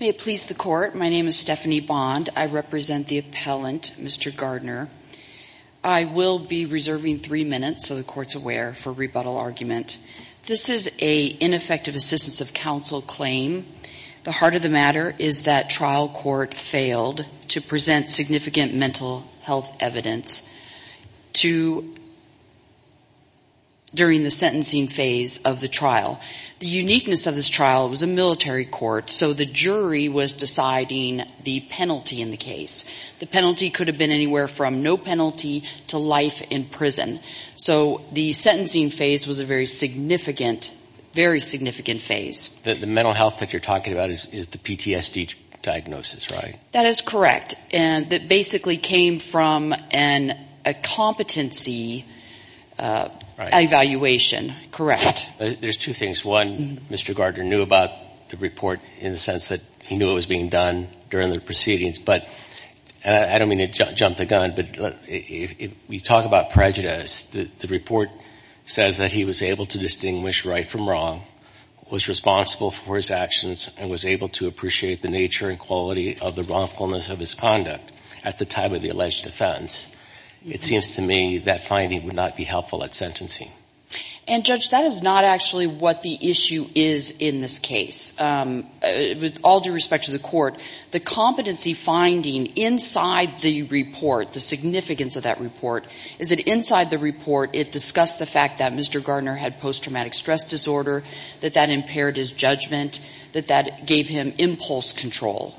May it please the Court, my name is Stephanie Bond. I represent the appellant, Mr. Garner. I will be reserving three minutes, so the Court's aware, for rebuttal argument. This is an ineffective assistance of counsel claim. The heart of the matter is that trial court failed to present significant mental health evidence during the sentencing phase of the trial. The uniqueness of this trial was a military court, so the jury was deciding the penalty in the case. The penalty could have been anywhere from no penalty to life in prison. So the sentencing phase was a very significant phase. The mental health that you're talking about is the PTSD diagnosis, right? That is correct. It basically came from a competency evaluation. Correct. There's two things. One, Mr. Garner knew about the report in the sense that he knew it was being done during the proceedings. But I don't mean to jump the gun, but if we talk about prejudice, the report says that he was able to distinguish right from wrong, was responsible for his actions, and was able to appreciate the nature and quality of the wrongfulness of his conduct at the time of the alleged offense. It seems to me that finding would not be helpful at sentencing. And, Judge, that is not actually what the issue is in this case. With all due respect to the court, the competency finding inside the report, the significance of that report, is that inside the report it discussed the fact that Mr. Garner had post-traumatic stress disorder, that that impaired his judgment, that that gave him impulse control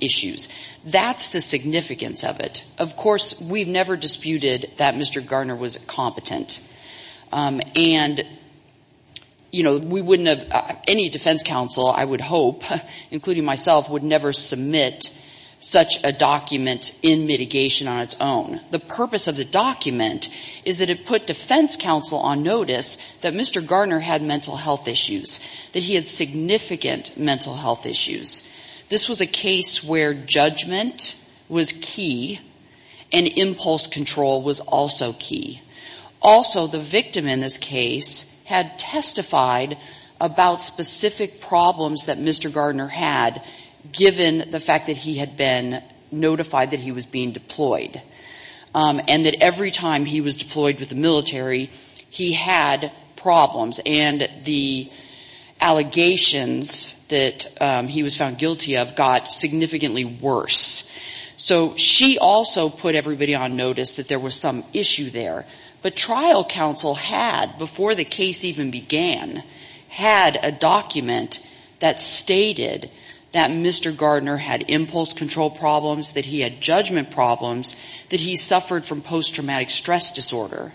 issues. That's the significance of it. Of course, we've never disputed that Mr. Garner was competent. And, you know, we wouldn't have, any defense counsel, I would hope, including myself, would never submit such a document in mitigation on its own. The purpose of the document is that it put defense counsel on notice that Mr. Garner had mental health issues, that he had significant mental health issues. This was a case where judgment was key, and impulse control was also key. Also, the victim in this case had testified about specific problems that Mr. Garner had, given the fact that he had been notified that he was being deployed. And that every time he was deployed with the military, he had problems. And the allegations that he was found guilty of got significantly worse. So she also put everybody on notice that there was some issue there. But trial counsel had, before the case even began, had a document that stated that Mr. Garner had impulse control problems, that he had judgment problems, that he suffered from post-traumatic stress disorder.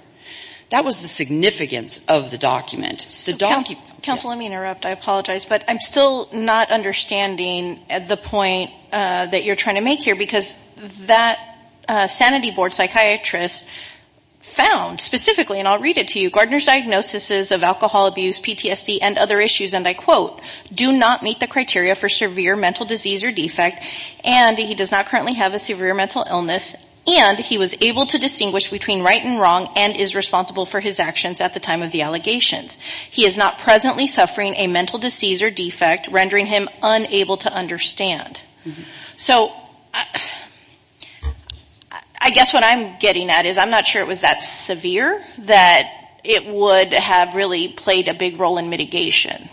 That was the significance of the document. The document, yes. So counsel, let me interrupt. I apologize. But I'm still not understanding the point that you're trying to make here, because that sanity board psychiatrist found specifically, and I'll read it to you, and he was able to distinguish between right and wrong and is responsible for his actions at the time of the allegations. He is not presently suffering a mental disease or defect, rendering him unable to understand. So I guess what I'm getting at is I'm not sure it was that severe that it would have really played a big role in mitigation.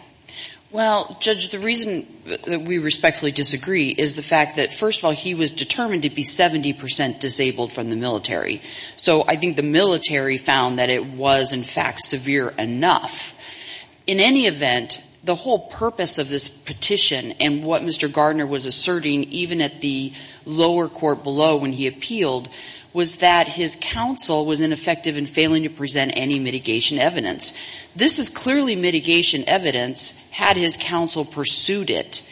Well, Judge, the reason that we respectfully disagree is the fact that, first of all, he was determined to be 70 percent disabled from the military. So I think the military found that it was, in fact, severe enough. In any event, the whole purpose of this petition and what Mr. Garner was asserting, even at the lower court below when he appealed, was that his counsel was ineffective in failing to present any mitigation evidence. This is clearly mitigation evidence, had his counsel pursued it.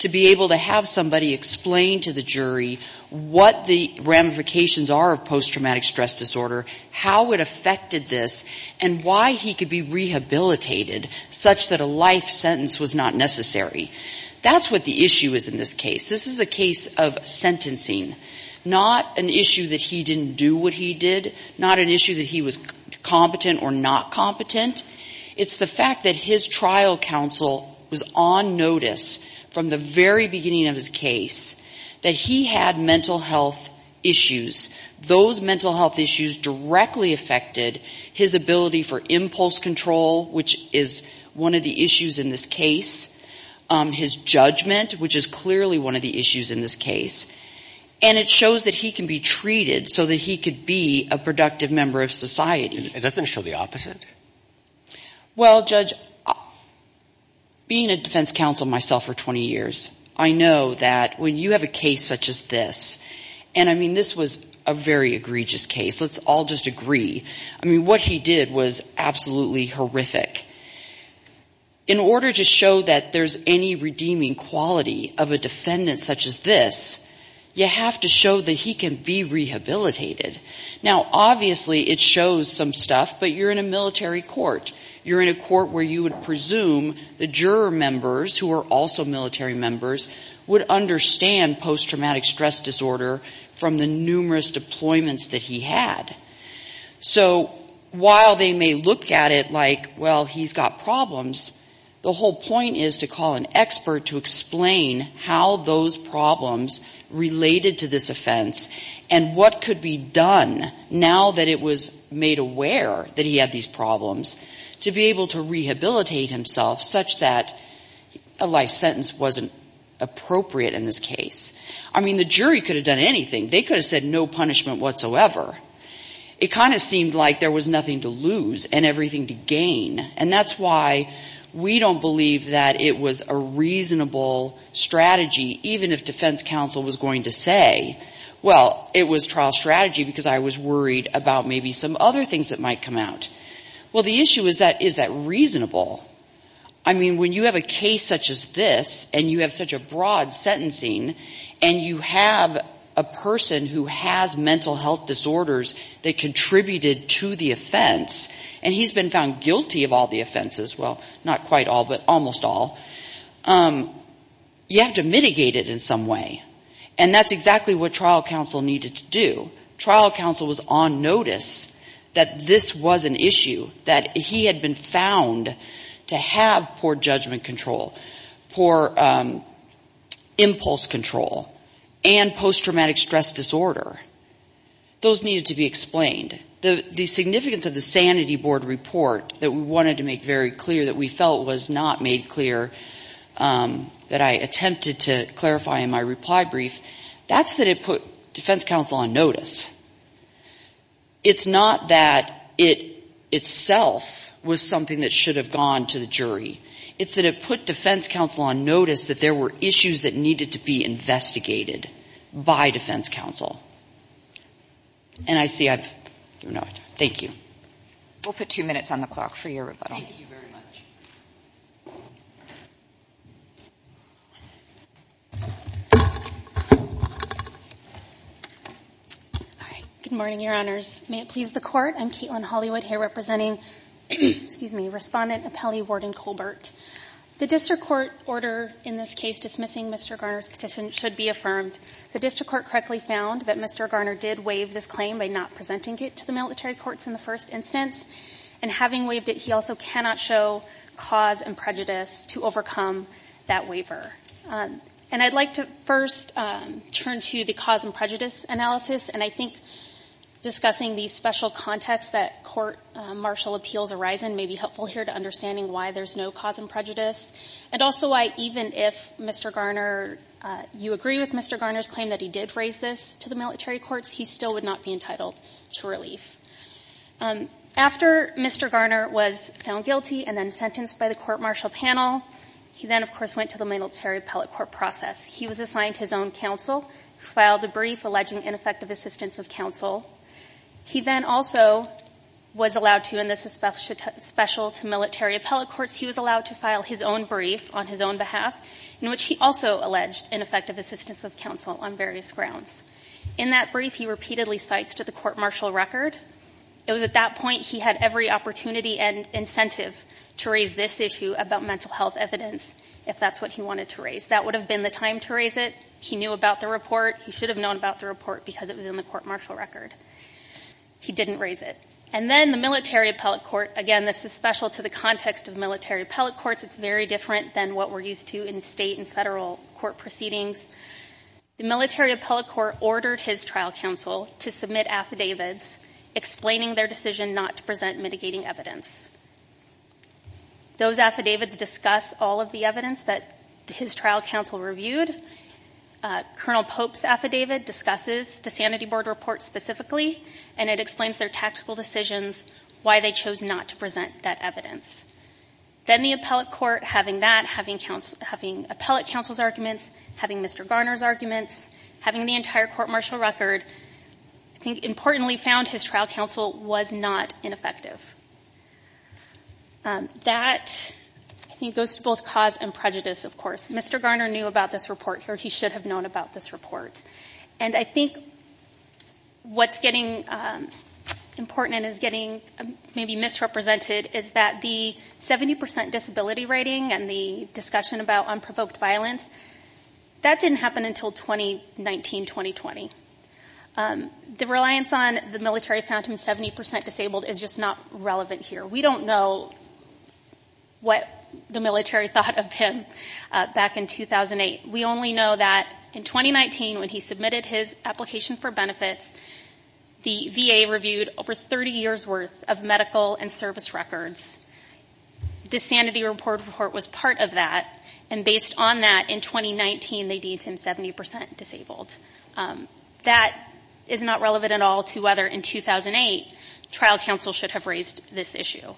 To be able to have somebody explain to the jury what the ramifications are of post-traumatic stress disorder, how it affected this, and why he could be rehabilitated such that a life sentence was not necessary. That's what the issue is in this case. This is a case of sentencing, not an issue that he didn't do what he did, not an issue that he was competent or not competent. It's the fact that his trial counsel was on notice from the very beginning of his case that he had mental health issues. Those mental health issues directly affected his ability for impulse control, which is one of the issues in this case. His judgment, which is clearly one of the issues in this case. And it shows that he can be treated so that he could be a productive member of society. It doesn't show the opposite. Well, Judge, being a defense counsel myself for 20 years, I know that when you have a case such as this, and I mean, this was a very egregious case. Let's all just agree. I mean, what he did was absolutely horrific. In order to show that there's any redeeming quality of a defendant such as this, you have to show that he can be rehabilitated. Now, obviously, it shows some stuff, but you're in a military court. You're in a court where you would presume the juror members, who are also military members, would understand post-traumatic stress disorder from the numerous deployments that he had. So while they may look at it like, well, he's got problems, the whole point is to call an expert to explain how those problems related to this offense and what could be done to help him. Now that it was made aware that he had these problems, to be able to rehabilitate himself such that a life sentence wasn't appropriate in this case. I mean, the jury could have done anything. They could have said no punishment whatsoever. It kind of seemed like there was nothing to lose and everything to gain. And that's why we don't believe that it was a reasonable strategy, even if defense counsel was going to say, well, it was trial strategy, because it was a reasonable strategy. Because I was worried about maybe some other things that might come out. Well, the issue is, is that reasonable? I mean, when you have a case such as this, and you have such a broad sentencing, and you have a person who has mental health disorders that contributed to the offense, and he's been found guilty of all the offenses, well, not quite all, but almost all, you have to mitigate it in some way. And that's exactly what trial counsel needed to do. Trial counsel was on notice that this was an issue, that he had been found to have poor judgment control, poor impulse control, and post-traumatic stress disorder. Those needed to be explained. The significance of the sanity board report that we wanted to make very clear that we felt was not made clear, that I attempted to clarify in my reply to the jury, was that it was not made clear that he had been found guilty of all offenses. In my reply brief, that's that it put defense counsel on notice. It's not that it itself was something that should have gone to the jury. It's that it put defense counsel on notice that there were issues that needed to be investigated by defense counsel. And I see I've given away time. Thank you. All right. Good morning, Your Honors. May it please the Court, I'm Caitlin Hollywood here representing, excuse me, Respondent Apelli Warden Colbert. The district court order in this case dismissing Mr. Garner's petition should be affirmed. The district court correctly found that Mr. Garner did waive this claim by not presenting it to the military courts in the first instance. And having waived it, he also cannot show cause and prejudice to overcome that waiver. And I'd like to first turn to the cause and prejudice analysis. And I think discussing the special context that court martial appeals arise in may be helpful here to understanding why there's no cause and prejudice. And also why even if Mr. Garner, you agree with Mr. Garner's claim that he did raise this to the military courts, he still would not be entitled to relief. After Mr. Garner was found guilty and then sentenced by the court martial panel, he then, of course, went to the military appellate court process. He was assigned his own counsel, filed a brief alleging ineffective assistance of counsel. He then also was allowed to, in this special to military appellate courts, he was allowed to file his own brief on his own behalf, in which he also alleged ineffective assistance of counsel on various grounds. In that brief, he repeatedly cites to the court martial record. It was at that point he had every opportunity and incentive to raise this issue about mental health evidence, if that's what he wanted to raise. That would have been the time to raise it. He knew about the report. He should have known about the report because it was in the court martial record. He didn't raise it. And then the military appellate court, again, this is special to the context of military appellate courts. It's very different than what we're used to in state and federal court proceedings. The military appellate court ordered his trial counsel to submit affidavits explaining their decision not to present mitigating evidence. Those affidavits discuss all of the evidence that his trial counsel reviewed. Colonel Pope's affidavit discusses the Sanity Board report specifically, and it explains their tactical decisions, why they chose not to present that evidence. Then the appellate court, having that, having appellate counsel's arguments, having Mr. Garner's arguments, having the entire court martial record, I think importantly found his trial counsel was not ineffective. That, I think, goes to both cause and prejudice, of course. Mr. Garner knew about this report, or he should have known about this report. And I think what's getting important and is getting maybe misrepresented is that the 70% disability rating and the discussion about unprovoked violence, that didn't happen until 2019, 2020. The reliance on the military found him 70% disabled is just not relevant here. We don't know what the military thought of him back in 2008. We only know that in 2019, when he submitted his application for benefits, the VA reviewed over 30 years' worth of medical and service records. The Sanity Board report was part of that, and based on that, in 2019, they deemed him 70% disabled. That is not relevant at all to whether, in 2008, trial counsel should have raised this issue.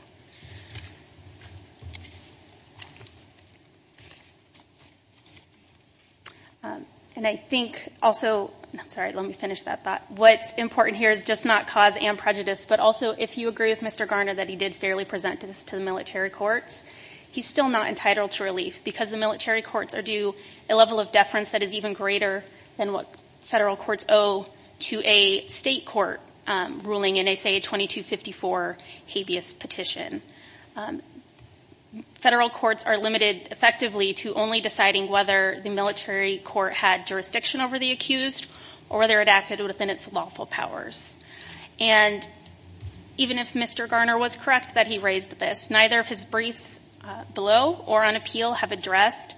And I think also, I'm sorry, let me finish that thought. What's important here is just not cause and prejudice, but also, if you agree with Mr. Garner that he did fairly present this to the military courts, he's still not entitled to relief because the military courts are due a level of deference that is even greater than what federal courts owe to a state court ruling in, say, a 2254 habeas petition. Federal courts are limited, effectively, to only deciding whether the military court had jurisdiction over the accused or whether it acted within its lawful powers. And even if Mr. Garner was correct that he raised this, neither of his briefs below or on appeal have addressed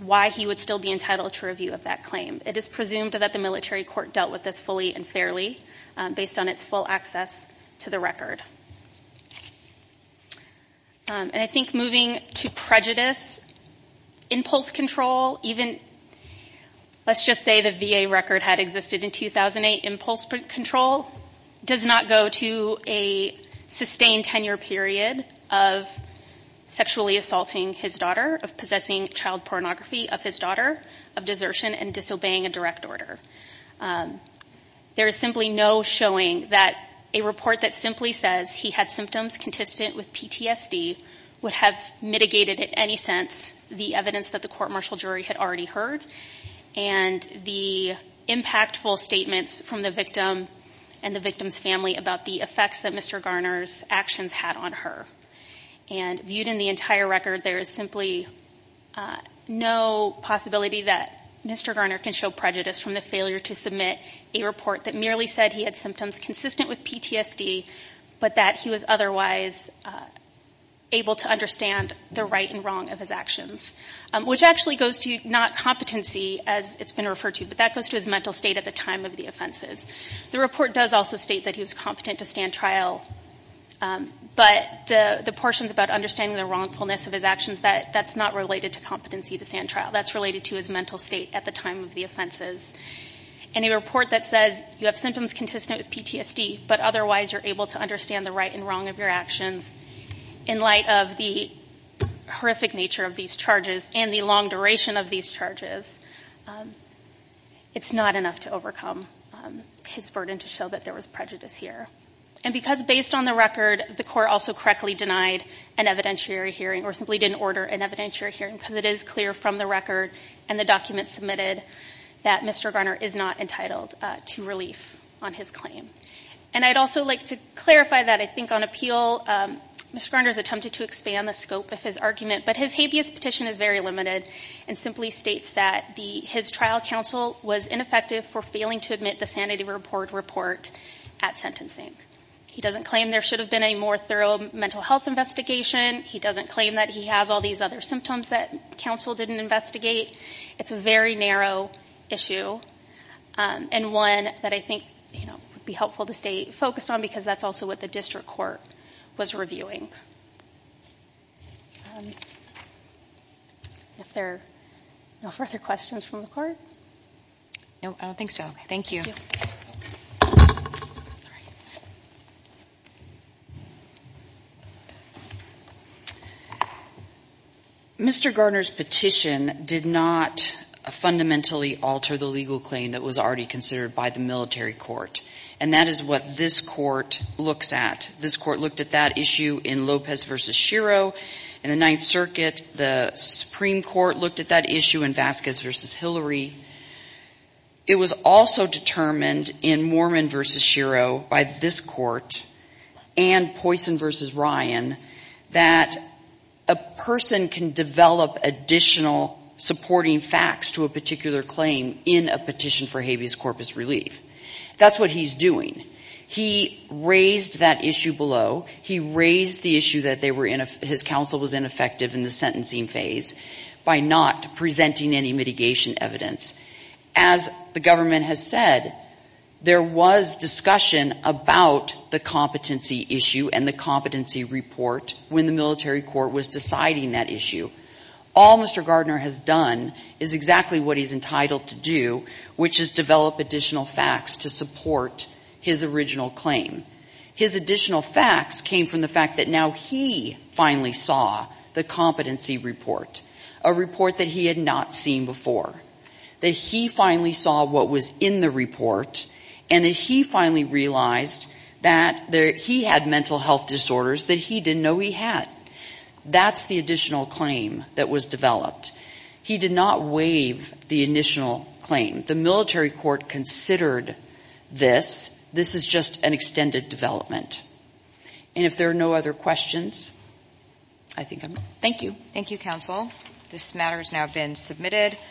why he would still be entitled to review of that claim. It is presumed that the military court dealt with this fully and fairly based on its full access to the record. And I think moving to prejudice, impulse control, even, let's just say the VA record had existed in 2008, impulse control does not go to a sustained tenure period of sexually assaulting his daughter, of possessing child pornography of his daughter, of desertion and disobeying a direct order. There is simply no showing that a report that simply says he had symptoms consistent with PTSD would have mitigated, in any sense, the evidence that the court martial jury had already heard and the impactful statements from the victim and the victim's family about the effects that Mr. Garner's actions had on her. And viewed in the entire record, there is simply no possibility that Mr. Garner can show prejudice from the family in his failure to submit a report that merely said he had symptoms consistent with PTSD, but that he was otherwise able to understand the right and wrong of his actions, which actually goes to not competency, as it's been referred to, but that goes to his mental state at the time of the offenses. The report does also state that he was competent to stand trial, but the portions about understanding the wrongfulness of his actions, that's not related to competency to stand trial, that's related to his mental state at the time of the offenses. And a report that says you have symptoms consistent with PTSD, but otherwise you're able to understand the right and wrong of your actions in light of the horrific nature of these charges and the long duration of these charges, it's not enough to overcome his burden to show that there was prejudice here. And because based on the record, the court also correctly denied an evidentiary hearing or simply didn't order an evidentiary hearing, because it is clear from the record and the documents submitted that Mr. Garner is not entitled to relief on his claim. And I'd also like to clarify that I think on appeal, Mr. Garner's attempted to expand the scope of his argument, but his habeas petition is very limited and simply states that his trial counsel was ineffective for failing to admit the sanity report report at sentencing. He doesn't claim there should have been a more thorough mental health investigation. He doesn't claim that he has all these other symptoms that counsel didn't investigate. It's a very narrow issue and one that I think would be helpful to stay focused on, because that's also what the district court was reviewing. If there are no further questions from the court? No, I don't think so. Thank you. Mr. Garner's petition did not fundamentally alter the legal claim that was already considered by the military court, and that is what this court looks at. This court looked at that issue in Lopez v. Shiro in the Ninth Circuit. The Supreme Court looked at that issue in Vasquez v. Hillary. It was also determined in Mormon v. Shiro by this court and Poisson v. Ryan that a person can develop additional supporting facts to a particular claim in a petition for habeas corpus relief. That's what he's doing. He raised that issue below. He raised the issue that his counsel was ineffective in the sentencing phase by not presenting any mitigation evidence. As the government has said, there was discussion about the competency issue and the competency report when the military court was deciding that issue. All Mr. Garner has done is exactly what he's entitled to do, which is develop additional facts to support his original claim. His additional facts came from the fact that now he finally saw the competency report, a report that he had not seen before, that he finally saw what was in the report, and that he finally realized that he had mental health disorders that he didn't know he had. That's the additional claim that was developed. He did not waive the initial claim. The military court considered this. This is just an extended development. And if there are no other questions, I think I'm done. Thank you.